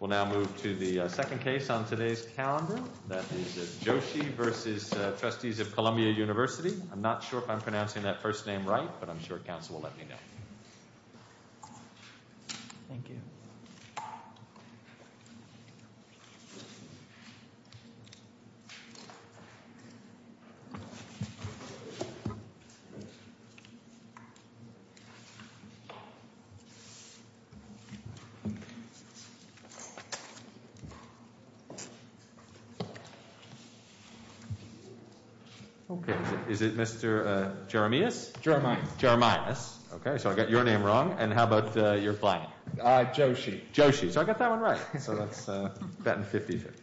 We'll now move to the second case on today's calendar. That is Joshi v. Trustees of Columbia University. I'm not sure if I'm pronouncing that first name right, but I'm sure Council will let me know. Thank you. Joshi v. Trustees of Columbia University Okay. Is it Mr. Jeremias? Jeremias. Jeremias. Okay, so I got your name wrong. And how about your flag? Joshi. Joshi. So I got that one right. So that's a bet in 50-50.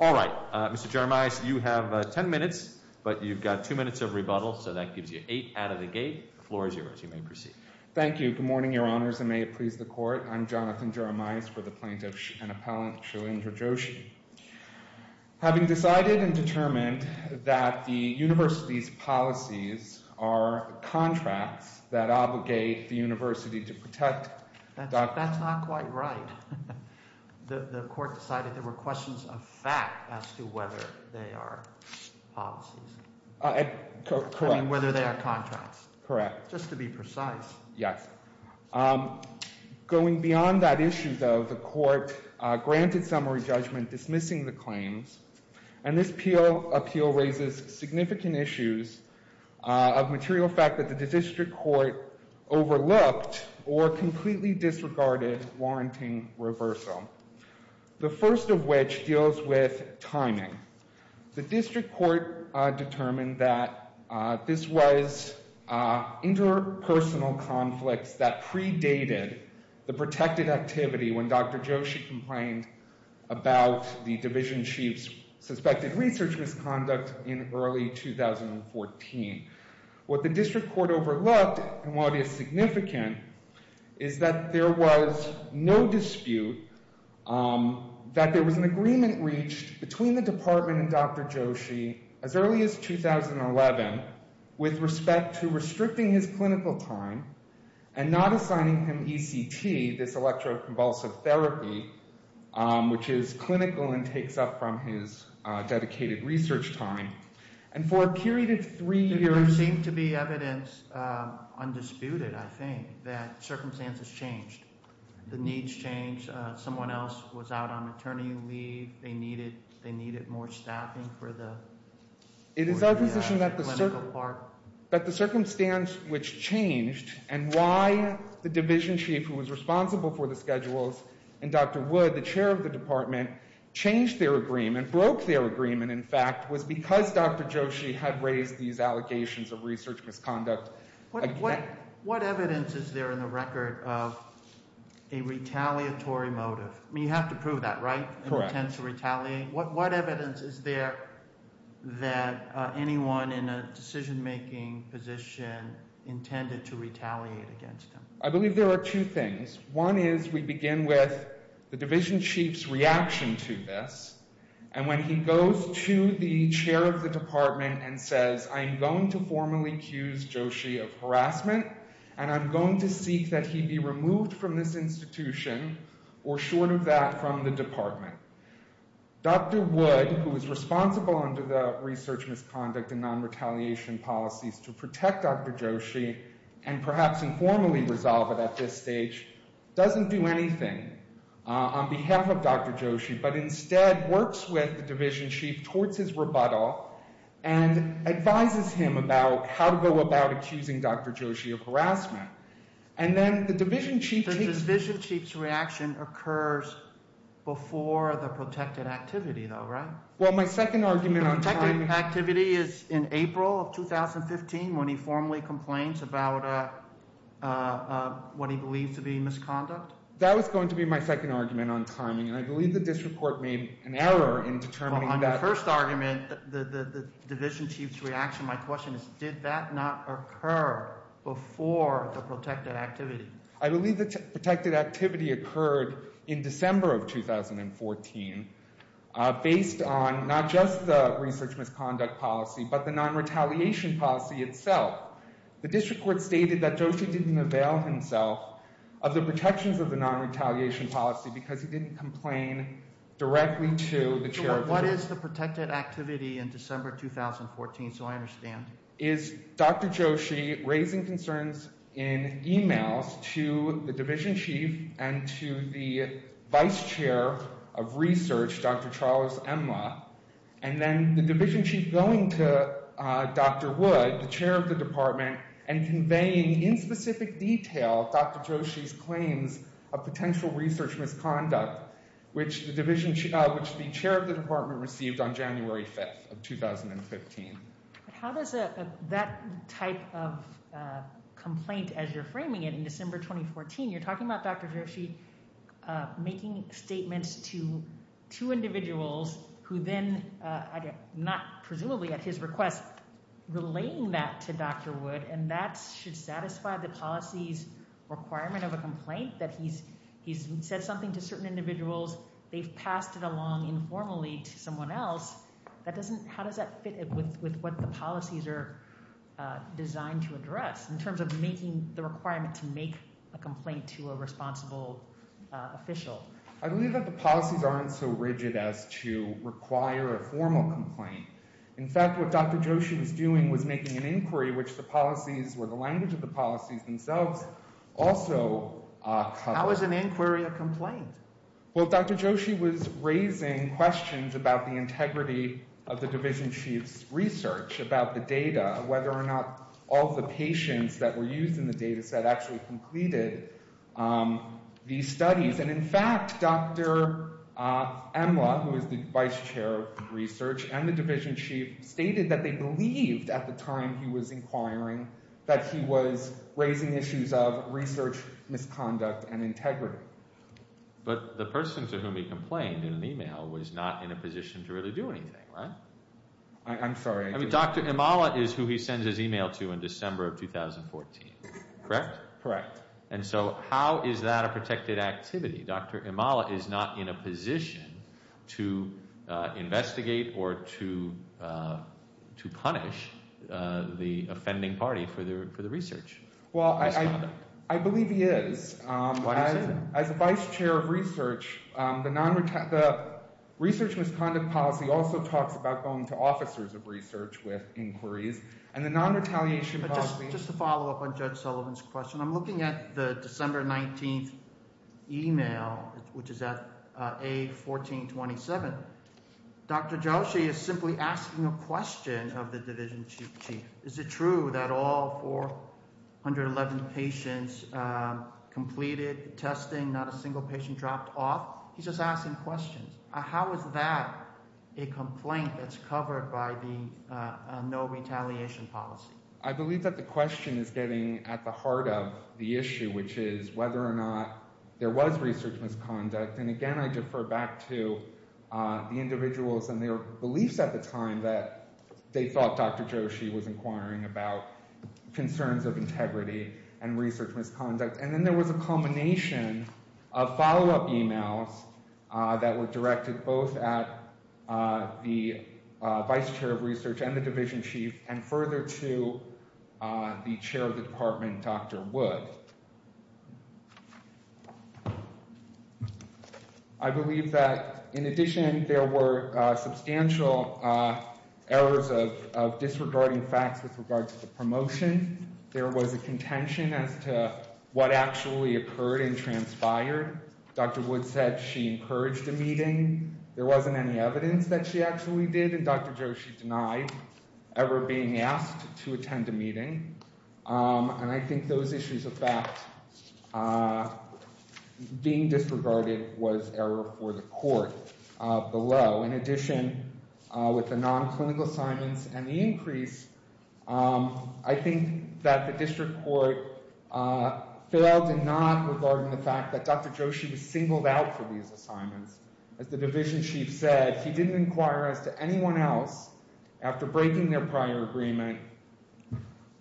All right. Mr. Jeremias, you have ten minutes, but you've got two minutes of rebuttal, so that gives you eight out of the gate. The floor is yours. You may proceed. Thank you. Good morning, Your Honors, and may it please the Court. I'm Jonathan Jeremias for the plaintiff and appellant, Shalindra Joshi. Having decided and determined that the University's policies are contracts that obligate the University to protect That's not quite right. The Court decided there were questions of fact as to whether they are policies. Correct. I mean, whether they are contracts. Correct. Just to be precise. Yes. Going beyond that issue, though, the Court granted summary judgment dismissing the claims, and this appeal raises significant issues of material fact that the district court overlooked or completely disregarded warranting reversal, the first of which deals with timing. The district court determined that this was interpersonal conflicts that predated the protected activity when Dr. Joshi complained about the division chief's suspected research misconduct in early 2014. What the district court overlooked and what is significant is that there was no dispute that there was an agreement reached between the department and Dr. Joshi as early as 2011 with respect to restricting his clinical time and not assigning him ECT, this electroconvulsive therapy, which is clinical and takes up from his dedicated research time. And for a period of three years... There seemed to be evidence, undisputed, I think, that circumstances changed. The needs changed. Someone else was out on attorney leave. They needed more staffing for the clinical part. It is our position that the circumstance which changed and why the division chief, who was responsible for the schedules, and Dr. Wood, the chair of the department, changed their agreement, broke their agreement, in fact, was because Dr. Joshi had raised these allocations of research misconduct. What evidence is there in the record of a retaliatory motive? I mean, you have to prove that, right? Correct. Intent to retaliate? What evidence is there that anyone in a decision-making position intended to retaliate against him? I believe there are two things. One is we begin with the division chief's reaction to this, and when he goes to the chair of the department and says, I'm going to formally accuse Joshi of harassment and I'm going to seek that he be removed from this institution or short of that from the department, Dr. Wood, who is responsible under the research misconduct and non-retaliation policies to protect Dr. Joshi and perhaps informally resolve it at this stage, doesn't do anything on behalf of Dr. Joshi but instead works with the division chief towards his rebuttal and advises him about how to go about accusing Dr. Joshi of harassment. The division chief's reaction occurs before the protected activity, though, right? Well, my second argument on timing... The protected activity is in April of 2015 when he formally complains about what he believes to be misconduct? That was going to be my second argument on timing, and I believe the district court made an error in determining that. On your first argument, the division chief's reaction, my question is, did that not occur before the protected activity? I believe the protected activity occurred in December of 2014 based on not just the research misconduct policy but the non-retaliation policy itself. The district court stated that Joshi didn't avail himself of the protections of the non-retaliation policy because he didn't complain directly to the chair... What is the protected activity in December 2014, so I understand? ...is Dr. Joshi raising concerns in emails to the division chief and to the vice chair of research, Dr. Charles Emla, and then the division chief going to Dr. Wood, the chair of the department, and conveying in specific detail Dr. Joshi's claims of potential research misconduct, which the division chief... which the chair of the department received on January 5th of 2015. How does that type of complaint, as you're framing it in December 2014, you're talking about Dr. Joshi making statements to two individuals who then, presumably at his request, relaying that to Dr. Wood, and that should satisfy the policy's requirement of a complaint that he's said something to certain individuals, they've passed it along informally to someone else. How does that fit with what the policies are designed to address in terms of making the requirement to make a complaint to a responsible official? I believe that the policies aren't so rigid as to require a formal complaint. In fact, what Dr. Joshi was doing was making an inquiry, which the policies or the language of the policies themselves also cover. How is an inquiry a complaint? Well, Dr. Joshi was raising questions about the integrity of the division chief's research, about the data, whether or not all the patients that were used in the data set actually completed these studies. And in fact, Dr. Emla, who is the vice chair of research and the division chief, stated that they believed at the time he was inquiring that he was raising issues of research misconduct and integrity. But the person to whom he complained in an email was not in a position to really do anything, right? I'm sorry. Dr. Emla is who he sends his email to in December of 2014, correct? Correct. And so how is that a protected activity? Dr. Emla is not in a position to investigate or to punish the offending party for the research misconduct. Well, I believe he is. Why is he? As vice chair of research, the research misconduct policy also talks about going to officers of research with inquiries. And the non-retaliation policy— Just to follow up on Judge Sullivan's question, I'm looking at the December 19th email, which is at A1427. Dr. Joshi is simply asking a question of the division chief. Is it true that all 411 patients completed the testing, not a single patient dropped off? He's just asking questions. How is that a complaint that's covered by the no-retaliation policy? I believe that the question is getting at the heart of the issue, which is whether or not there was research misconduct. And again, I defer back to the individuals and their beliefs at the time that they thought Dr. Joshi was inquiring about concerns of integrity and research misconduct. And then there was a culmination of follow-up emails that were directed both at the vice chair of research and the division chief and further to the chair of the department, Dr. Wood. I believe that, in addition, there were substantial errors of disregarding facts with regard to the promotion. There was a contention as to what actually occurred and transpired. Dr. Wood said she encouraged a meeting. There wasn't any evidence that she actually did, and Dr. Joshi denied ever being asked to attend a meeting. And I think those issues of fact being disregarded was error for the court below. In addition, with the non-clinical assignments and the increase, I think that the district court failed in not regarding the fact that Dr. Joshi was singled out for these assignments. As the division chief said, he didn't inquire as to anyone else, after breaking their prior agreement,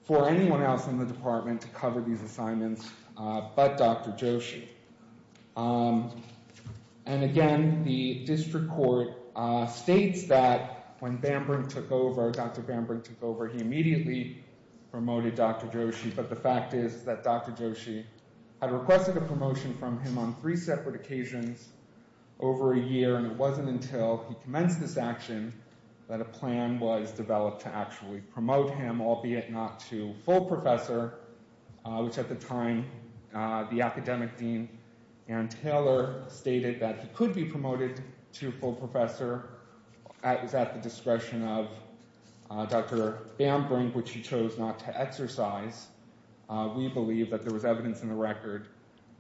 for anyone else in the department to cover these assignments but Dr. Joshi. And, again, the district court states that when Bamberg took over, Dr. Bamberg took over, he immediately promoted Dr. Joshi. But the fact is that Dr. Joshi had requested a promotion from him on three separate occasions over a year, and it wasn't until he commenced this action that a plan was developed to actually promote him, albeit not to full professor, which at the time the academic dean, Ann Taylor, stated that he could be promoted to full professor. It was at the discretion of Dr. Bamberg, which she chose not to exercise. We believe that there was evidence in the record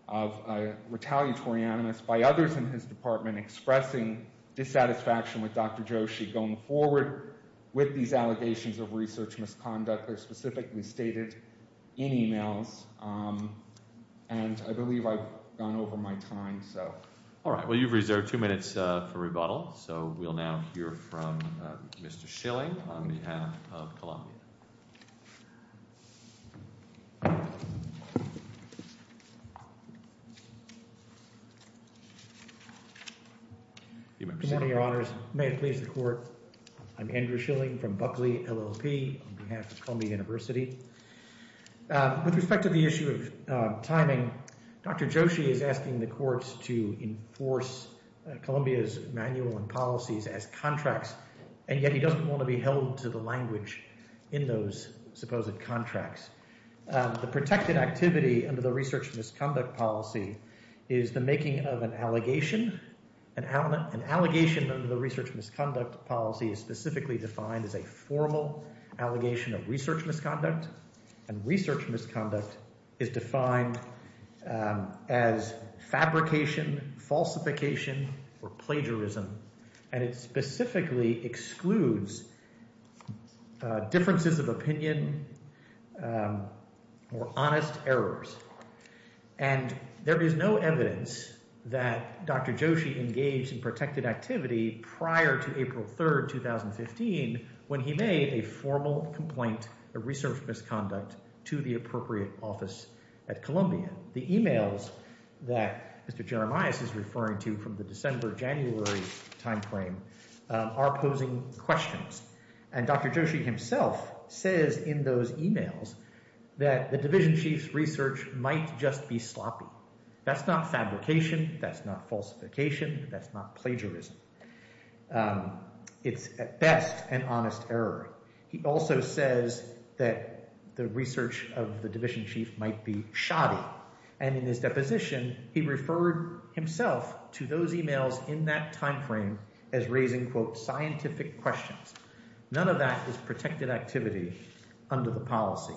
of a retaliatory animus by others in his department expressing dissatisfaction with Dr. Joshi going forward with these allegations of research misconduct that are specifically stated in emails. And I believe I've gone over my time. All right. Well, you've reserved two minutes for rebuttal. So we'll now hear from Mr. Schilling on behalf of Columbia. Good morning, Your Honors. May it please the Court. I'm Andrew Schilling from Buckley, LLP, on behalf of Columbia University. With respect to the issue of timing, Dr. Joshi is asking the courts to enforce Columbia's manual and policies as contracts, and yet he doesn't want to be held to the language in those supposed contracts. The protected activity under the research misconduct policy is the making of an allegation. An allegation under the research misconduct policy is specifically defined as a formal allegation of research misconduct, and research misconduct is defined as fabrication, falsification, or plagiarism, and it specifically excludes differences of opinion or honest errors. And there is no evidence that Dr. Joshi engaged in protected activity prior to April 3, 2015, when he made a formal complaint of research misconduct to the appropriate office at Columbia. The e-mails that Mr. Jeremias is referring to from the December-January time frame are posing questions, and Dr. Joshi himself says in those e-mails that the division chief's research might just be sloppy. That's not fabrication, that's not falsification, that's not plagiarism. It's at best an honest error. He also says that the research of the division chief might be shoddy, and in his deposition he referred himself to those e-mails in that time frame as raising, quote, scientific questions. None of that is protected activity under the policy,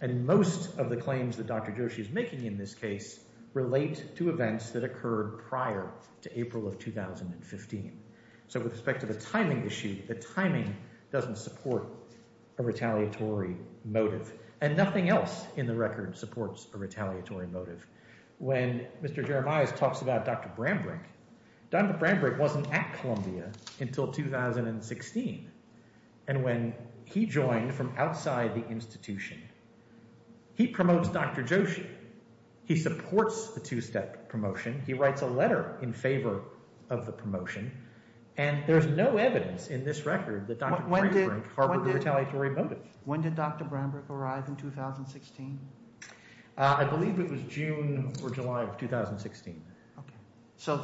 and most of the claims that Dr. Joshi is making in this case relate to events that occurred prior to April of 2015. So with respect to the timing issue, the timing doesn't support a retaliatory motive, and nothing else in the record supports a retaliatory motive. When Mr. Jeremias talks about Dr. Brambrink, Dr. Brambrink wasn't at Columbia until 2016, and when he joined from outside the institution, he promotes Dr. Joshi. He supports the two-step promotion. He writes a letter in favor of the promotion, and there's no evidence in this record that Dr. Brambrink harbored a retaliatory motive. When did Dr. Brambrink arrive in 2016? I believe it was June or July of 2016. So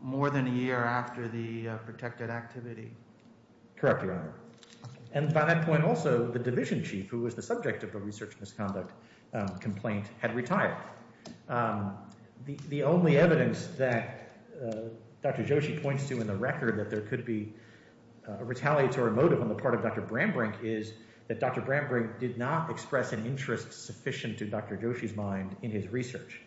more than a year after the protected activity? Correct, Your Honor. And by that point also, the division chief, who was the subject of the research misconduct complaint, had retired. The only evidence that Dr. Joshi points to in the record that there could be a retaliatory motive on the part of Dr. Brambrink is that Dr. Brambrink did not express an interest sufficient to Dr. Joshi's mind in his research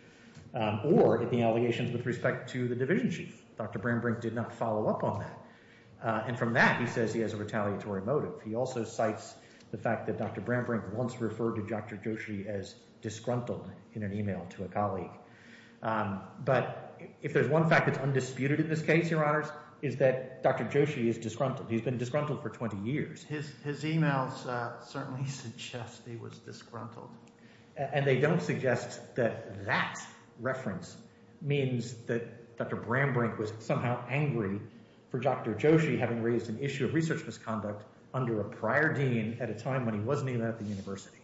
or in the allegations with respect to the division chief. Dr. Brambrink did not follow up on that. And from that, he says he has a retaliatory motive. He also cites the fact that Dr. Brambrink once referred to Dr. Joshi as disgruntled in an email to a colleague. But if there's one fact that's undisputed in this case, Your Honors, it's that Dr. Joshi is disgruntled. He's been disgruntled for 20 years. His emails certainly suggest he was disgruntled. And they don't suggest that that reference means that Dr. Brambrink was somehow angry for Dr. Joshi having raised an issue of research misconduct under a prior dean at a time when he wasn't even at the university.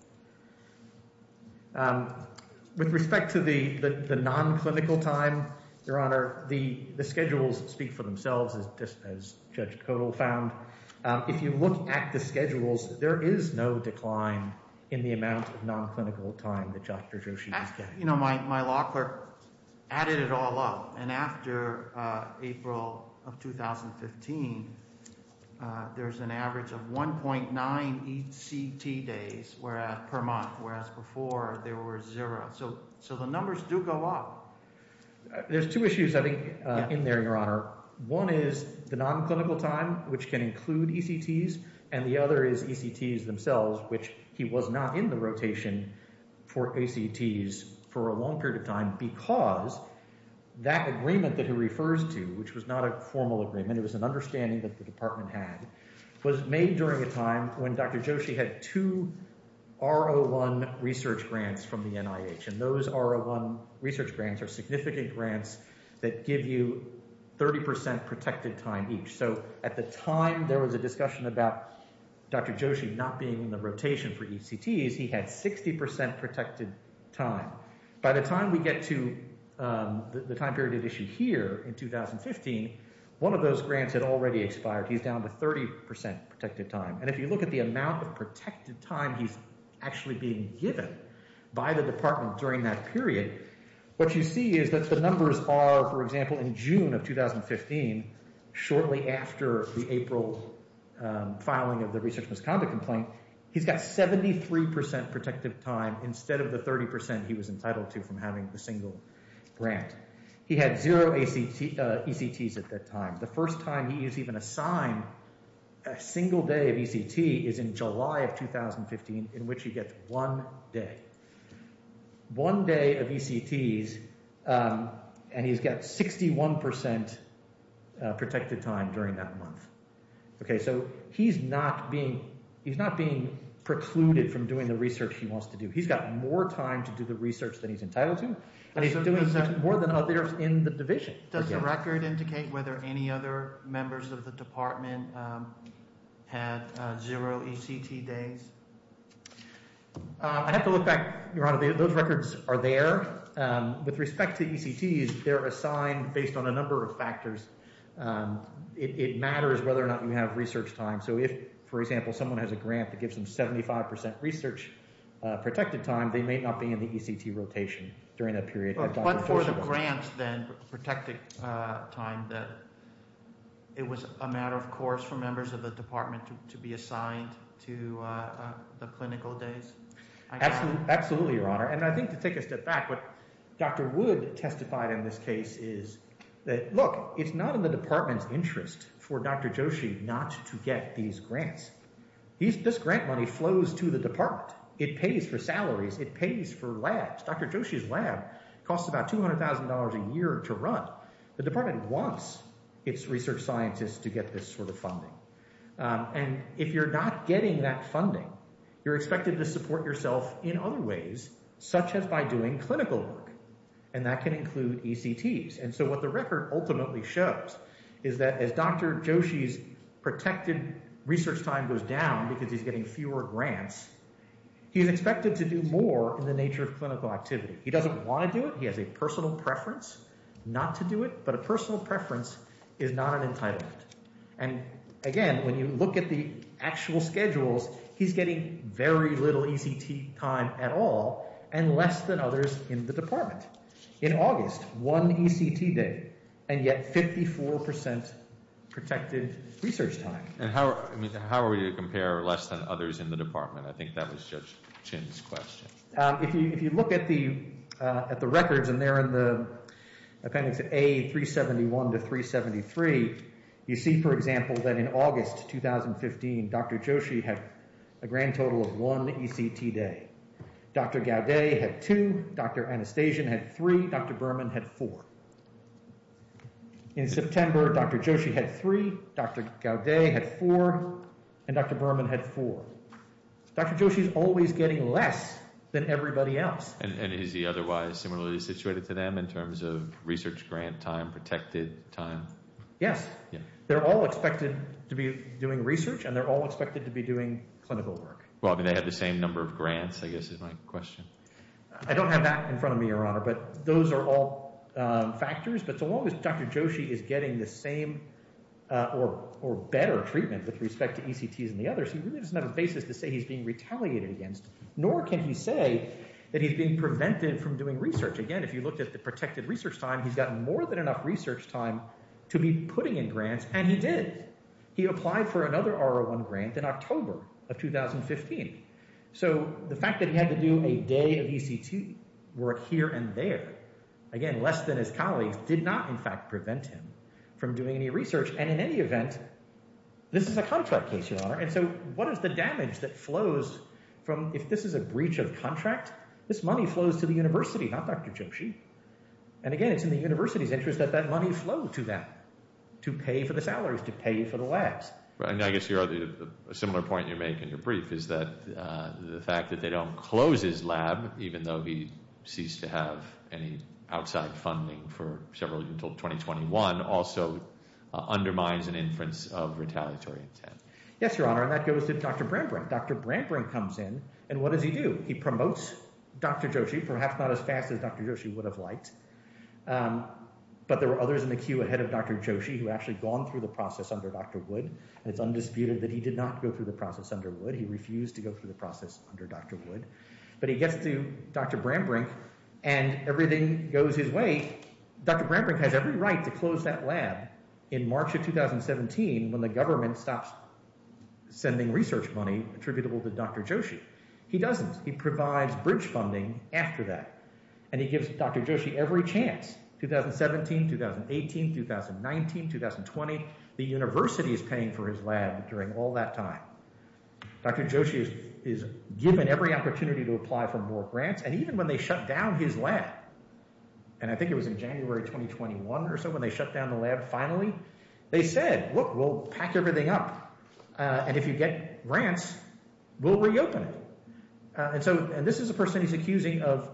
With respect to the non-clinical time, Your Honor, the schedules speak for themselves, as Judge Kodal found. If you look at the schedules, there is no decline in the amount of non-clinical time that Dr. Joshi is getting. You know, my law clerk added it all up. And after April of 2015, there's an average of 1.9 ECT days per month, whereas before there were zero. So the numbers do go up. There's two issues, I think, in there, Your Honor. One is the non-clinical time, which can include ECTs. And the other is ECTs themselves, which he was not in the rotation for ECTs for a long period of time because that agreement that he refers to, which was not a formal agreement, it was an understanding that the department had, was made during a time when Dr. Joshi had two R01 research grants from the NIH. And those R01 research grants are significant grants that give you 30% protected time each. So at the time there was a discussion about Dr. Joshi not being in the rotation for ECTs, he had 60% protected time. By the time we get to the time period at issue here in 2015, one of those grants had already expired. He's down to 30% protected time. And if you look at the amount of protected time he's actually being given by the department during that period, what you see is that the numbers are, for example, in June of 2015, shortly after the April filing of the research misconduct complaint, he's got 73% protected time instead of the 30% he was entitled to from having the single grant. He had zero ECTs at that time. The first time he is even assigned a single day of ECT is in July of 2015, in which he gets one day. One day of ECTs, and he's got 61% protected time during that month. Okay, so he's not being, he's not being precluded from doing the research he wants to do. He's got more time to do the research than he's entitled to, and he's doing more than others in the division. Does the record indicate whether any other members of the department had zero ECT days? I'd have to look back, Your Honor. Those records are there. With respect to ECTs, they're assigned based on a number of factors. It matters whether or not you have research time. So if, for example, someone has a grant that gives them 75% research protected time, they may not be in the ECT rotation during that period. But for the grants then, protected time, that it was a matter of course for members of the department to be assigned to the clinical days? Absolutely, Your Honor. And I think to take a step back, what Dr. Wood testified in this case is that, look, it's not in the department's interest for Dr. Joshi not to get these grants. This grant money flows to the department. It pays for salaries. It pays for labs. Dr. Joshi's lab costs about $200,000 a year to run. The department wants its research scientists to get this sort of funding. And if you're not getting that funding, you're expected to support yourself in other ways, such as by doing clinical work, and that can include ECTs. And so what the record ultimately shows is that as Dr. Joshi's protected research time goes down because he's getting fewer grants, he's expected to do more in the nature of clinical activity. He doesn't want to do it. He has a personal preference not to do it, but a personal preference is not an entitlement. And again, when you look at the actual schedules, he's getting very little ECT time at all and less than others in the department. In August, one ECT day and yet 54% protected research time. And how are we to compare less than others in the department? I think that was Judge Chin's question. If you look at the records and they're in the appendix A371 to 373, you see, for example, that in August 2015, Dr. Joshi had a grand total of one ECT day. Dr. Gaudet had two. Dr. Anastasian had three. Dr. Berman had four. In September, Dr. Joshi had three. Dr. Gaudet had four. And Dr. Berman had four. Dr. Joshi's always getting less than everybody else. And is he otherwise similarly situated to them in terms of research grant time, protected time? Yes. They're all expected to be doing research and they're all expected to be doing clinical work. Well, I mean, they have the same number of grants, I guess, is my question. I don't have that in front of me, Your Honor, but those are all factors. But so long as Dr. Joshi is getting the same or better treatment with respect to ECTs and the others, he really doesn't have a basis to say he's being retaliated against. Nor can he say that he's being prevented from doing research. Again, if you looked at the protected research time, he's got more than enough research time to be putting in grants, and he did. He applied for another R01 grant in October of 2015. So the fact that he had to do a day of ECT work here and there, again, less than his colleagues, did not in fact prevent him from doing any research. And in any event, this is a contract case, Your Honor. And so what is the damage that flows from if this is a breach of contract? This money flows to the university, not Dr. Joshi. And again, it's in the university's interest that that money flow to them to pay for the salaries, to pay for the labs. I guess a similar point you make in your brief is that the fact that they don't close his lab, even though he ceased to have any outside funding for several until 2021, also undermines an inference of retaliatory intent. Yes, Your Honor, and that goes to Dr. Brambrink. Dr. Brambrink comes in, and what does he do? He promotes Dr. Joshi, perhaps not as fast as Dr. Joshi would have liked. But there were others in the queue ahead of Dr. Joshi who had actually gone through the process under Dr. Wood, and it's undisputed that he did not go through the process under Wood. He refused to go through the process under Dr. Wood. But he gets to Dr. Brambrink, and everything goes his way. Dr. Brambrink has every right to close that lab in March of 2017 when the government stops sending research money attributable to Dr. Joshi. He doesn't. He provides breach funding after that. And he gives Dr. Joshi every chance, 2017, 2018, 2019, 2020. The university is paying for his lab during all that time. Dr. Joshi is given every opportunity to apply for more grants. And even when they shut down his lab, and I think it was in January 2021 or so when they shut down the lab finally, they said, look, we'll pack everything up. And if you get grants, we'll reopen it. And so this is a person he's accusing of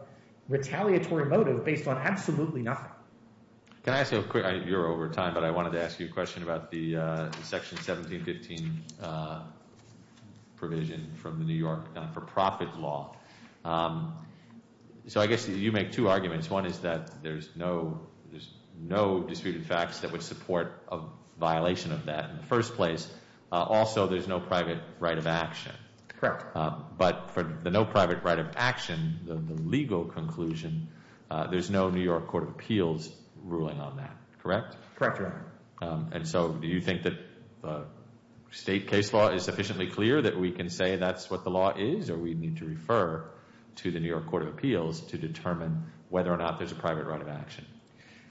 retaliatory motive based on absolutely nothing. Can I ask you a quick, you're over time, but I wanted to ask you a question about the Section 1715 provision from the New York non-for-profit law. So I guess you make two arguments. One is that there's no disputed facts that would support a violation of that in the first place. Also, there's no private right of action. Correct. But for the no private right of action, the legal conclusion, there's no New York Court of Appeals ruling on that, correct? Correct, Your Honor. And so do you think that the state case law is sufficiently clear that we can say that's what the law is? Or we need to refer to the New York Court of Appeals to determine whether or not there's a private right of action?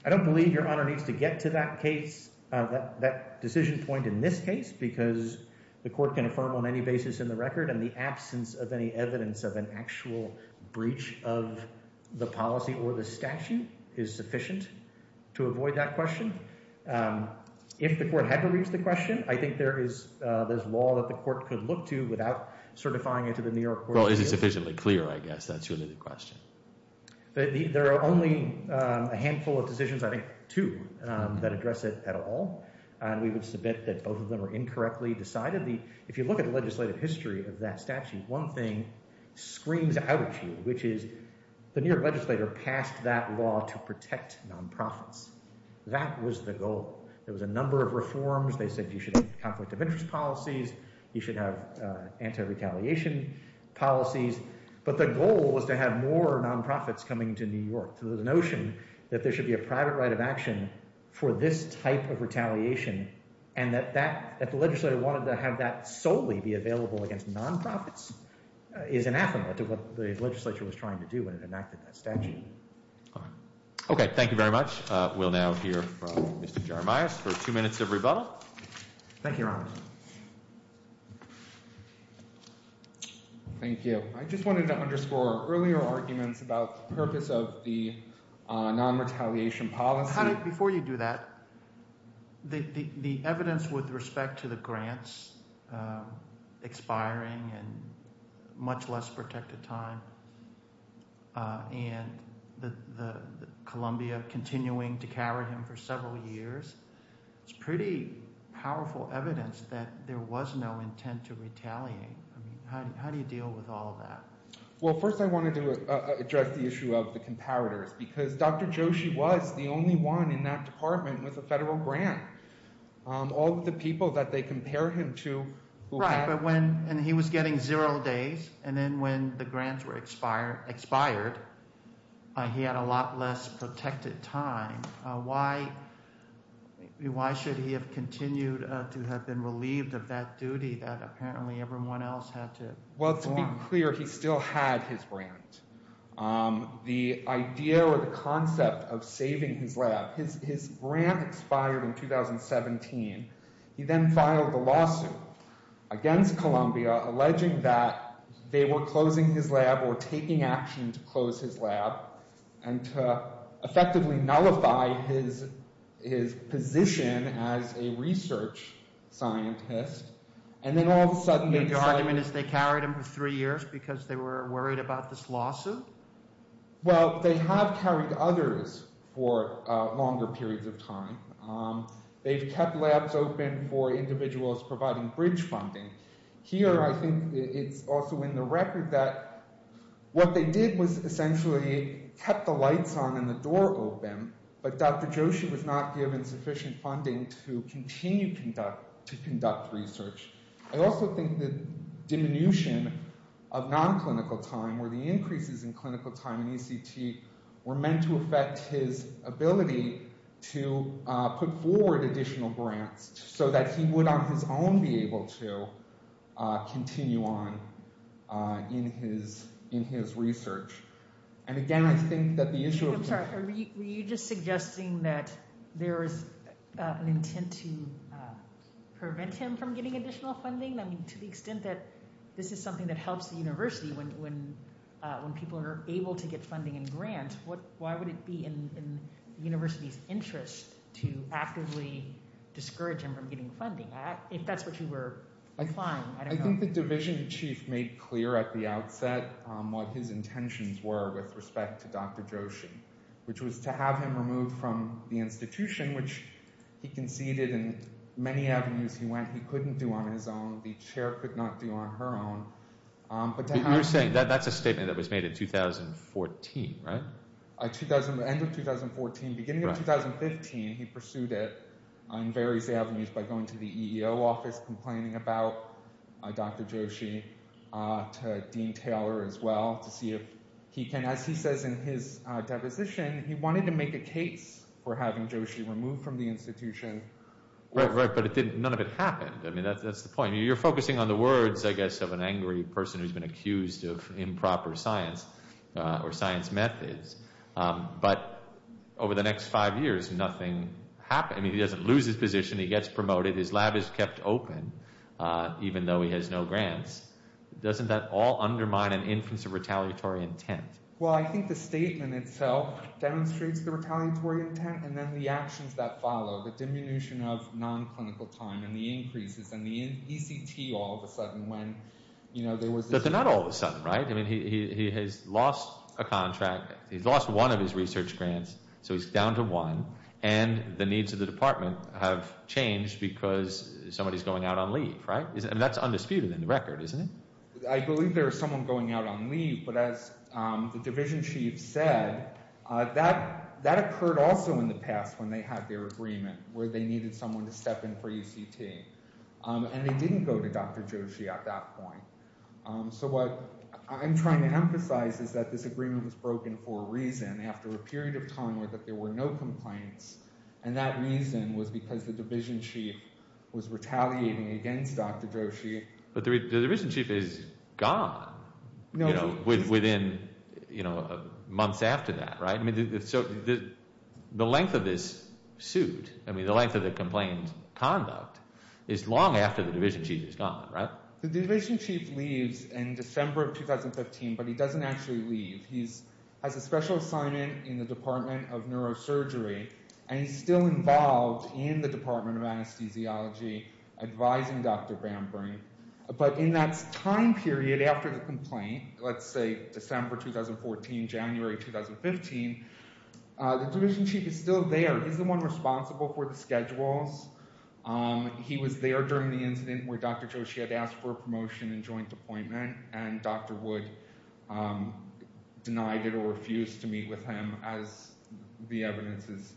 I don't believe Your Honor needs to get to that case, that decision point in this case, because the court can affirm on any basis in the record. And the absence of any evidence of an actual breach of the policy or the statute is sufficient to avoid that question. If the court had to reach the question, I think there is law that the court could look to without certifying it to the New York Court of Appeals. Well, is it sufficiently clear, I guess, that's really the question. There are only a handful of decisions, I think two, that address it at all. And we would submit that both of them are incorrectly decided. If you look at the legislative history of that statute, one thing screams out at you, which is the New York legislator passed that law to protect nonprofits. That was the goal. There was a number of reforms. They said you should have conflict of interest policies. You should have anti-retaliation policies. But the goal was to have more nonprofits coming to New York. So the notion that there should be a private right of action for this type of retaliation and that the legislator wanted to have that solely be available against nonprofits is anathema to what the legislature was trying to do when it enacted that statute. Okay. Thank you very much. We'll now hear from Mr. Jaramais for two minutes of rebuttal. Thank you, Your Honor. Thank you. I just wanted to underscore earlier arguments about the purpose of the non-retaliation policy. Before you do that, the evidence with respect to the grants expiring and much less protected time and Columbia continuing to carry them for several years, it's pretty powerful evidence that there was no intent to retaliate. How do you deal with all of that? Well, first I wanted to address the issue of the comparators because Dr. Joshi was the only one in that department with a federal grant. All of the people that they compare him to who had – Why should he have continued to have been relieved of that duty that apparently everyone else had to – Well, to be clear, he still had his grant. The idea or the concept of saving his lab – his grant expired in 2017. He then filed a lawsuit against Columbia alleging that they were closing his lab or taking action to close his lab and to effectively nullify his position as a research scientist. And then all of a sudden – The argument is they carried him for three years because they were worried about this lawsuit? Well, they have carried others for longer periods of time. They've kept labs open for individuals providing bridge funding. Here I think it's also in the record that what they did was essentially kept the lights on and the door open, but Dr. Joshi was not given sufficient funding to continue to conduct research. I also think the diminution of non-clinical time or the increases in clinical time in ECT were meant to affect his ability to put forward additional grants so that he would on his own be able to continue on in his research. And again, I think that the issue of – Are you just suggesting that there is an intent to prevent him from getting additional funding? I mean, to the extent that this is something that helps the university when people are able to get funding and grants, why would it be in the university's interest to actively discourage him from getting funding? If that's what you were implying, I don't know. I think the division chief made clear at the outset what his intentions were with respect to Dr. Joshi, which was to have him removed from the institution, which he conceded in many avenues he went he couldn't do on his own. The chair could not do on her own. But you're saying that that's a statement that was made in 2014, right? At the end of 2014, beginning of 2015, he pursued it on various avenues by going to the EEO office complaining about Dr. Joshi to Dean Taylor as well to see if he can – as he says in his deposition, he wanted to make a case for having Joshi removed from the institution. Right, but none of it happened. I mean, that's the point. You're focusing on the words, I guess, of an angry person who's been accused of improper science or science methods. But over the next five years, nothing happened. I mean, he doesn't lose his position. He gets promoted. His lab is kept open even though he has no grants. Doesn't that all undermine an inference of retaliatory intent? Well, I think the statement itself demonstrates the retaliatory intent and then the actions that follow, the diminution of non-clinical time and the increases and the ECT all of a sudden when there was – But they're not all of a sudden, right? I mean, he has lost a contract. He's lost one of his research grants, so he's down to one. And the needs of the department have changed because somebody is going out on leave, right? I mean, that's undisputed in the record, isn't it? I believe there is someone going out on leave, but as the division chief said, that occurred also in the past when they had their agreement where they needed someone to step in for ECT. And they didn't go to Dr. Joshi at that point. So what I'm trying to emphasize is that this agreement was broken for a reason after a period of time where there were no complaints. And that reason was because the division chief was retaliating against Dr. Joshi. But the division chief is gone within months after that, right? So the length of this suit, I mean the length of the complaint conduct is long after the division chief is gone, right? The division chief leaves in December of 2015, but he doesn't actually leave. He has a special assignment in the Department of Neurosurgery, and he's still involved in the Department of Anesthesiology advising Dr. Bamberg. But in that time period after the complaint, let's say December 2014, January 2015, the division chief is still there. He's the one responsible for the schedules. He was there during the incident where Dr. Joshi had asked for a promotion and joint appointment, and Dr. Wood denied it or refused to meet with him as the evidence is.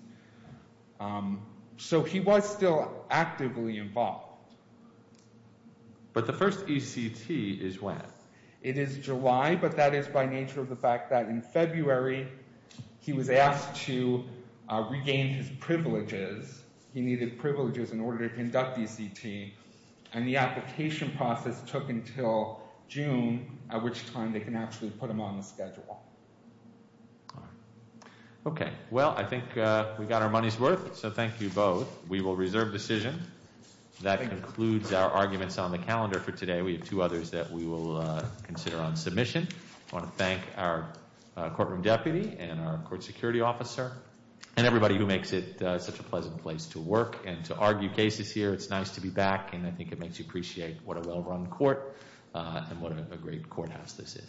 So he was still actively involved. But the first ECT is when? It is July, but that is by nature of the fact that in February he was asked to regain his privileges. He needed privileges in order to conduct ECT, and the application process took until June, at which time they can actually put him on the schedule. All right. Okay. Well, I think we got our money's worth, so thank you both. We will reserve decision. That concludes our arguments on the calendar for today. We have two others that we will consider on submission. I want to thank our courtroom deputy and our court security officer and everybody who makes it such a pleasant place to work and to argue cases here. It's nice to be back, and I think it makes you appreciate what a well-run court and what a great courthouse this is.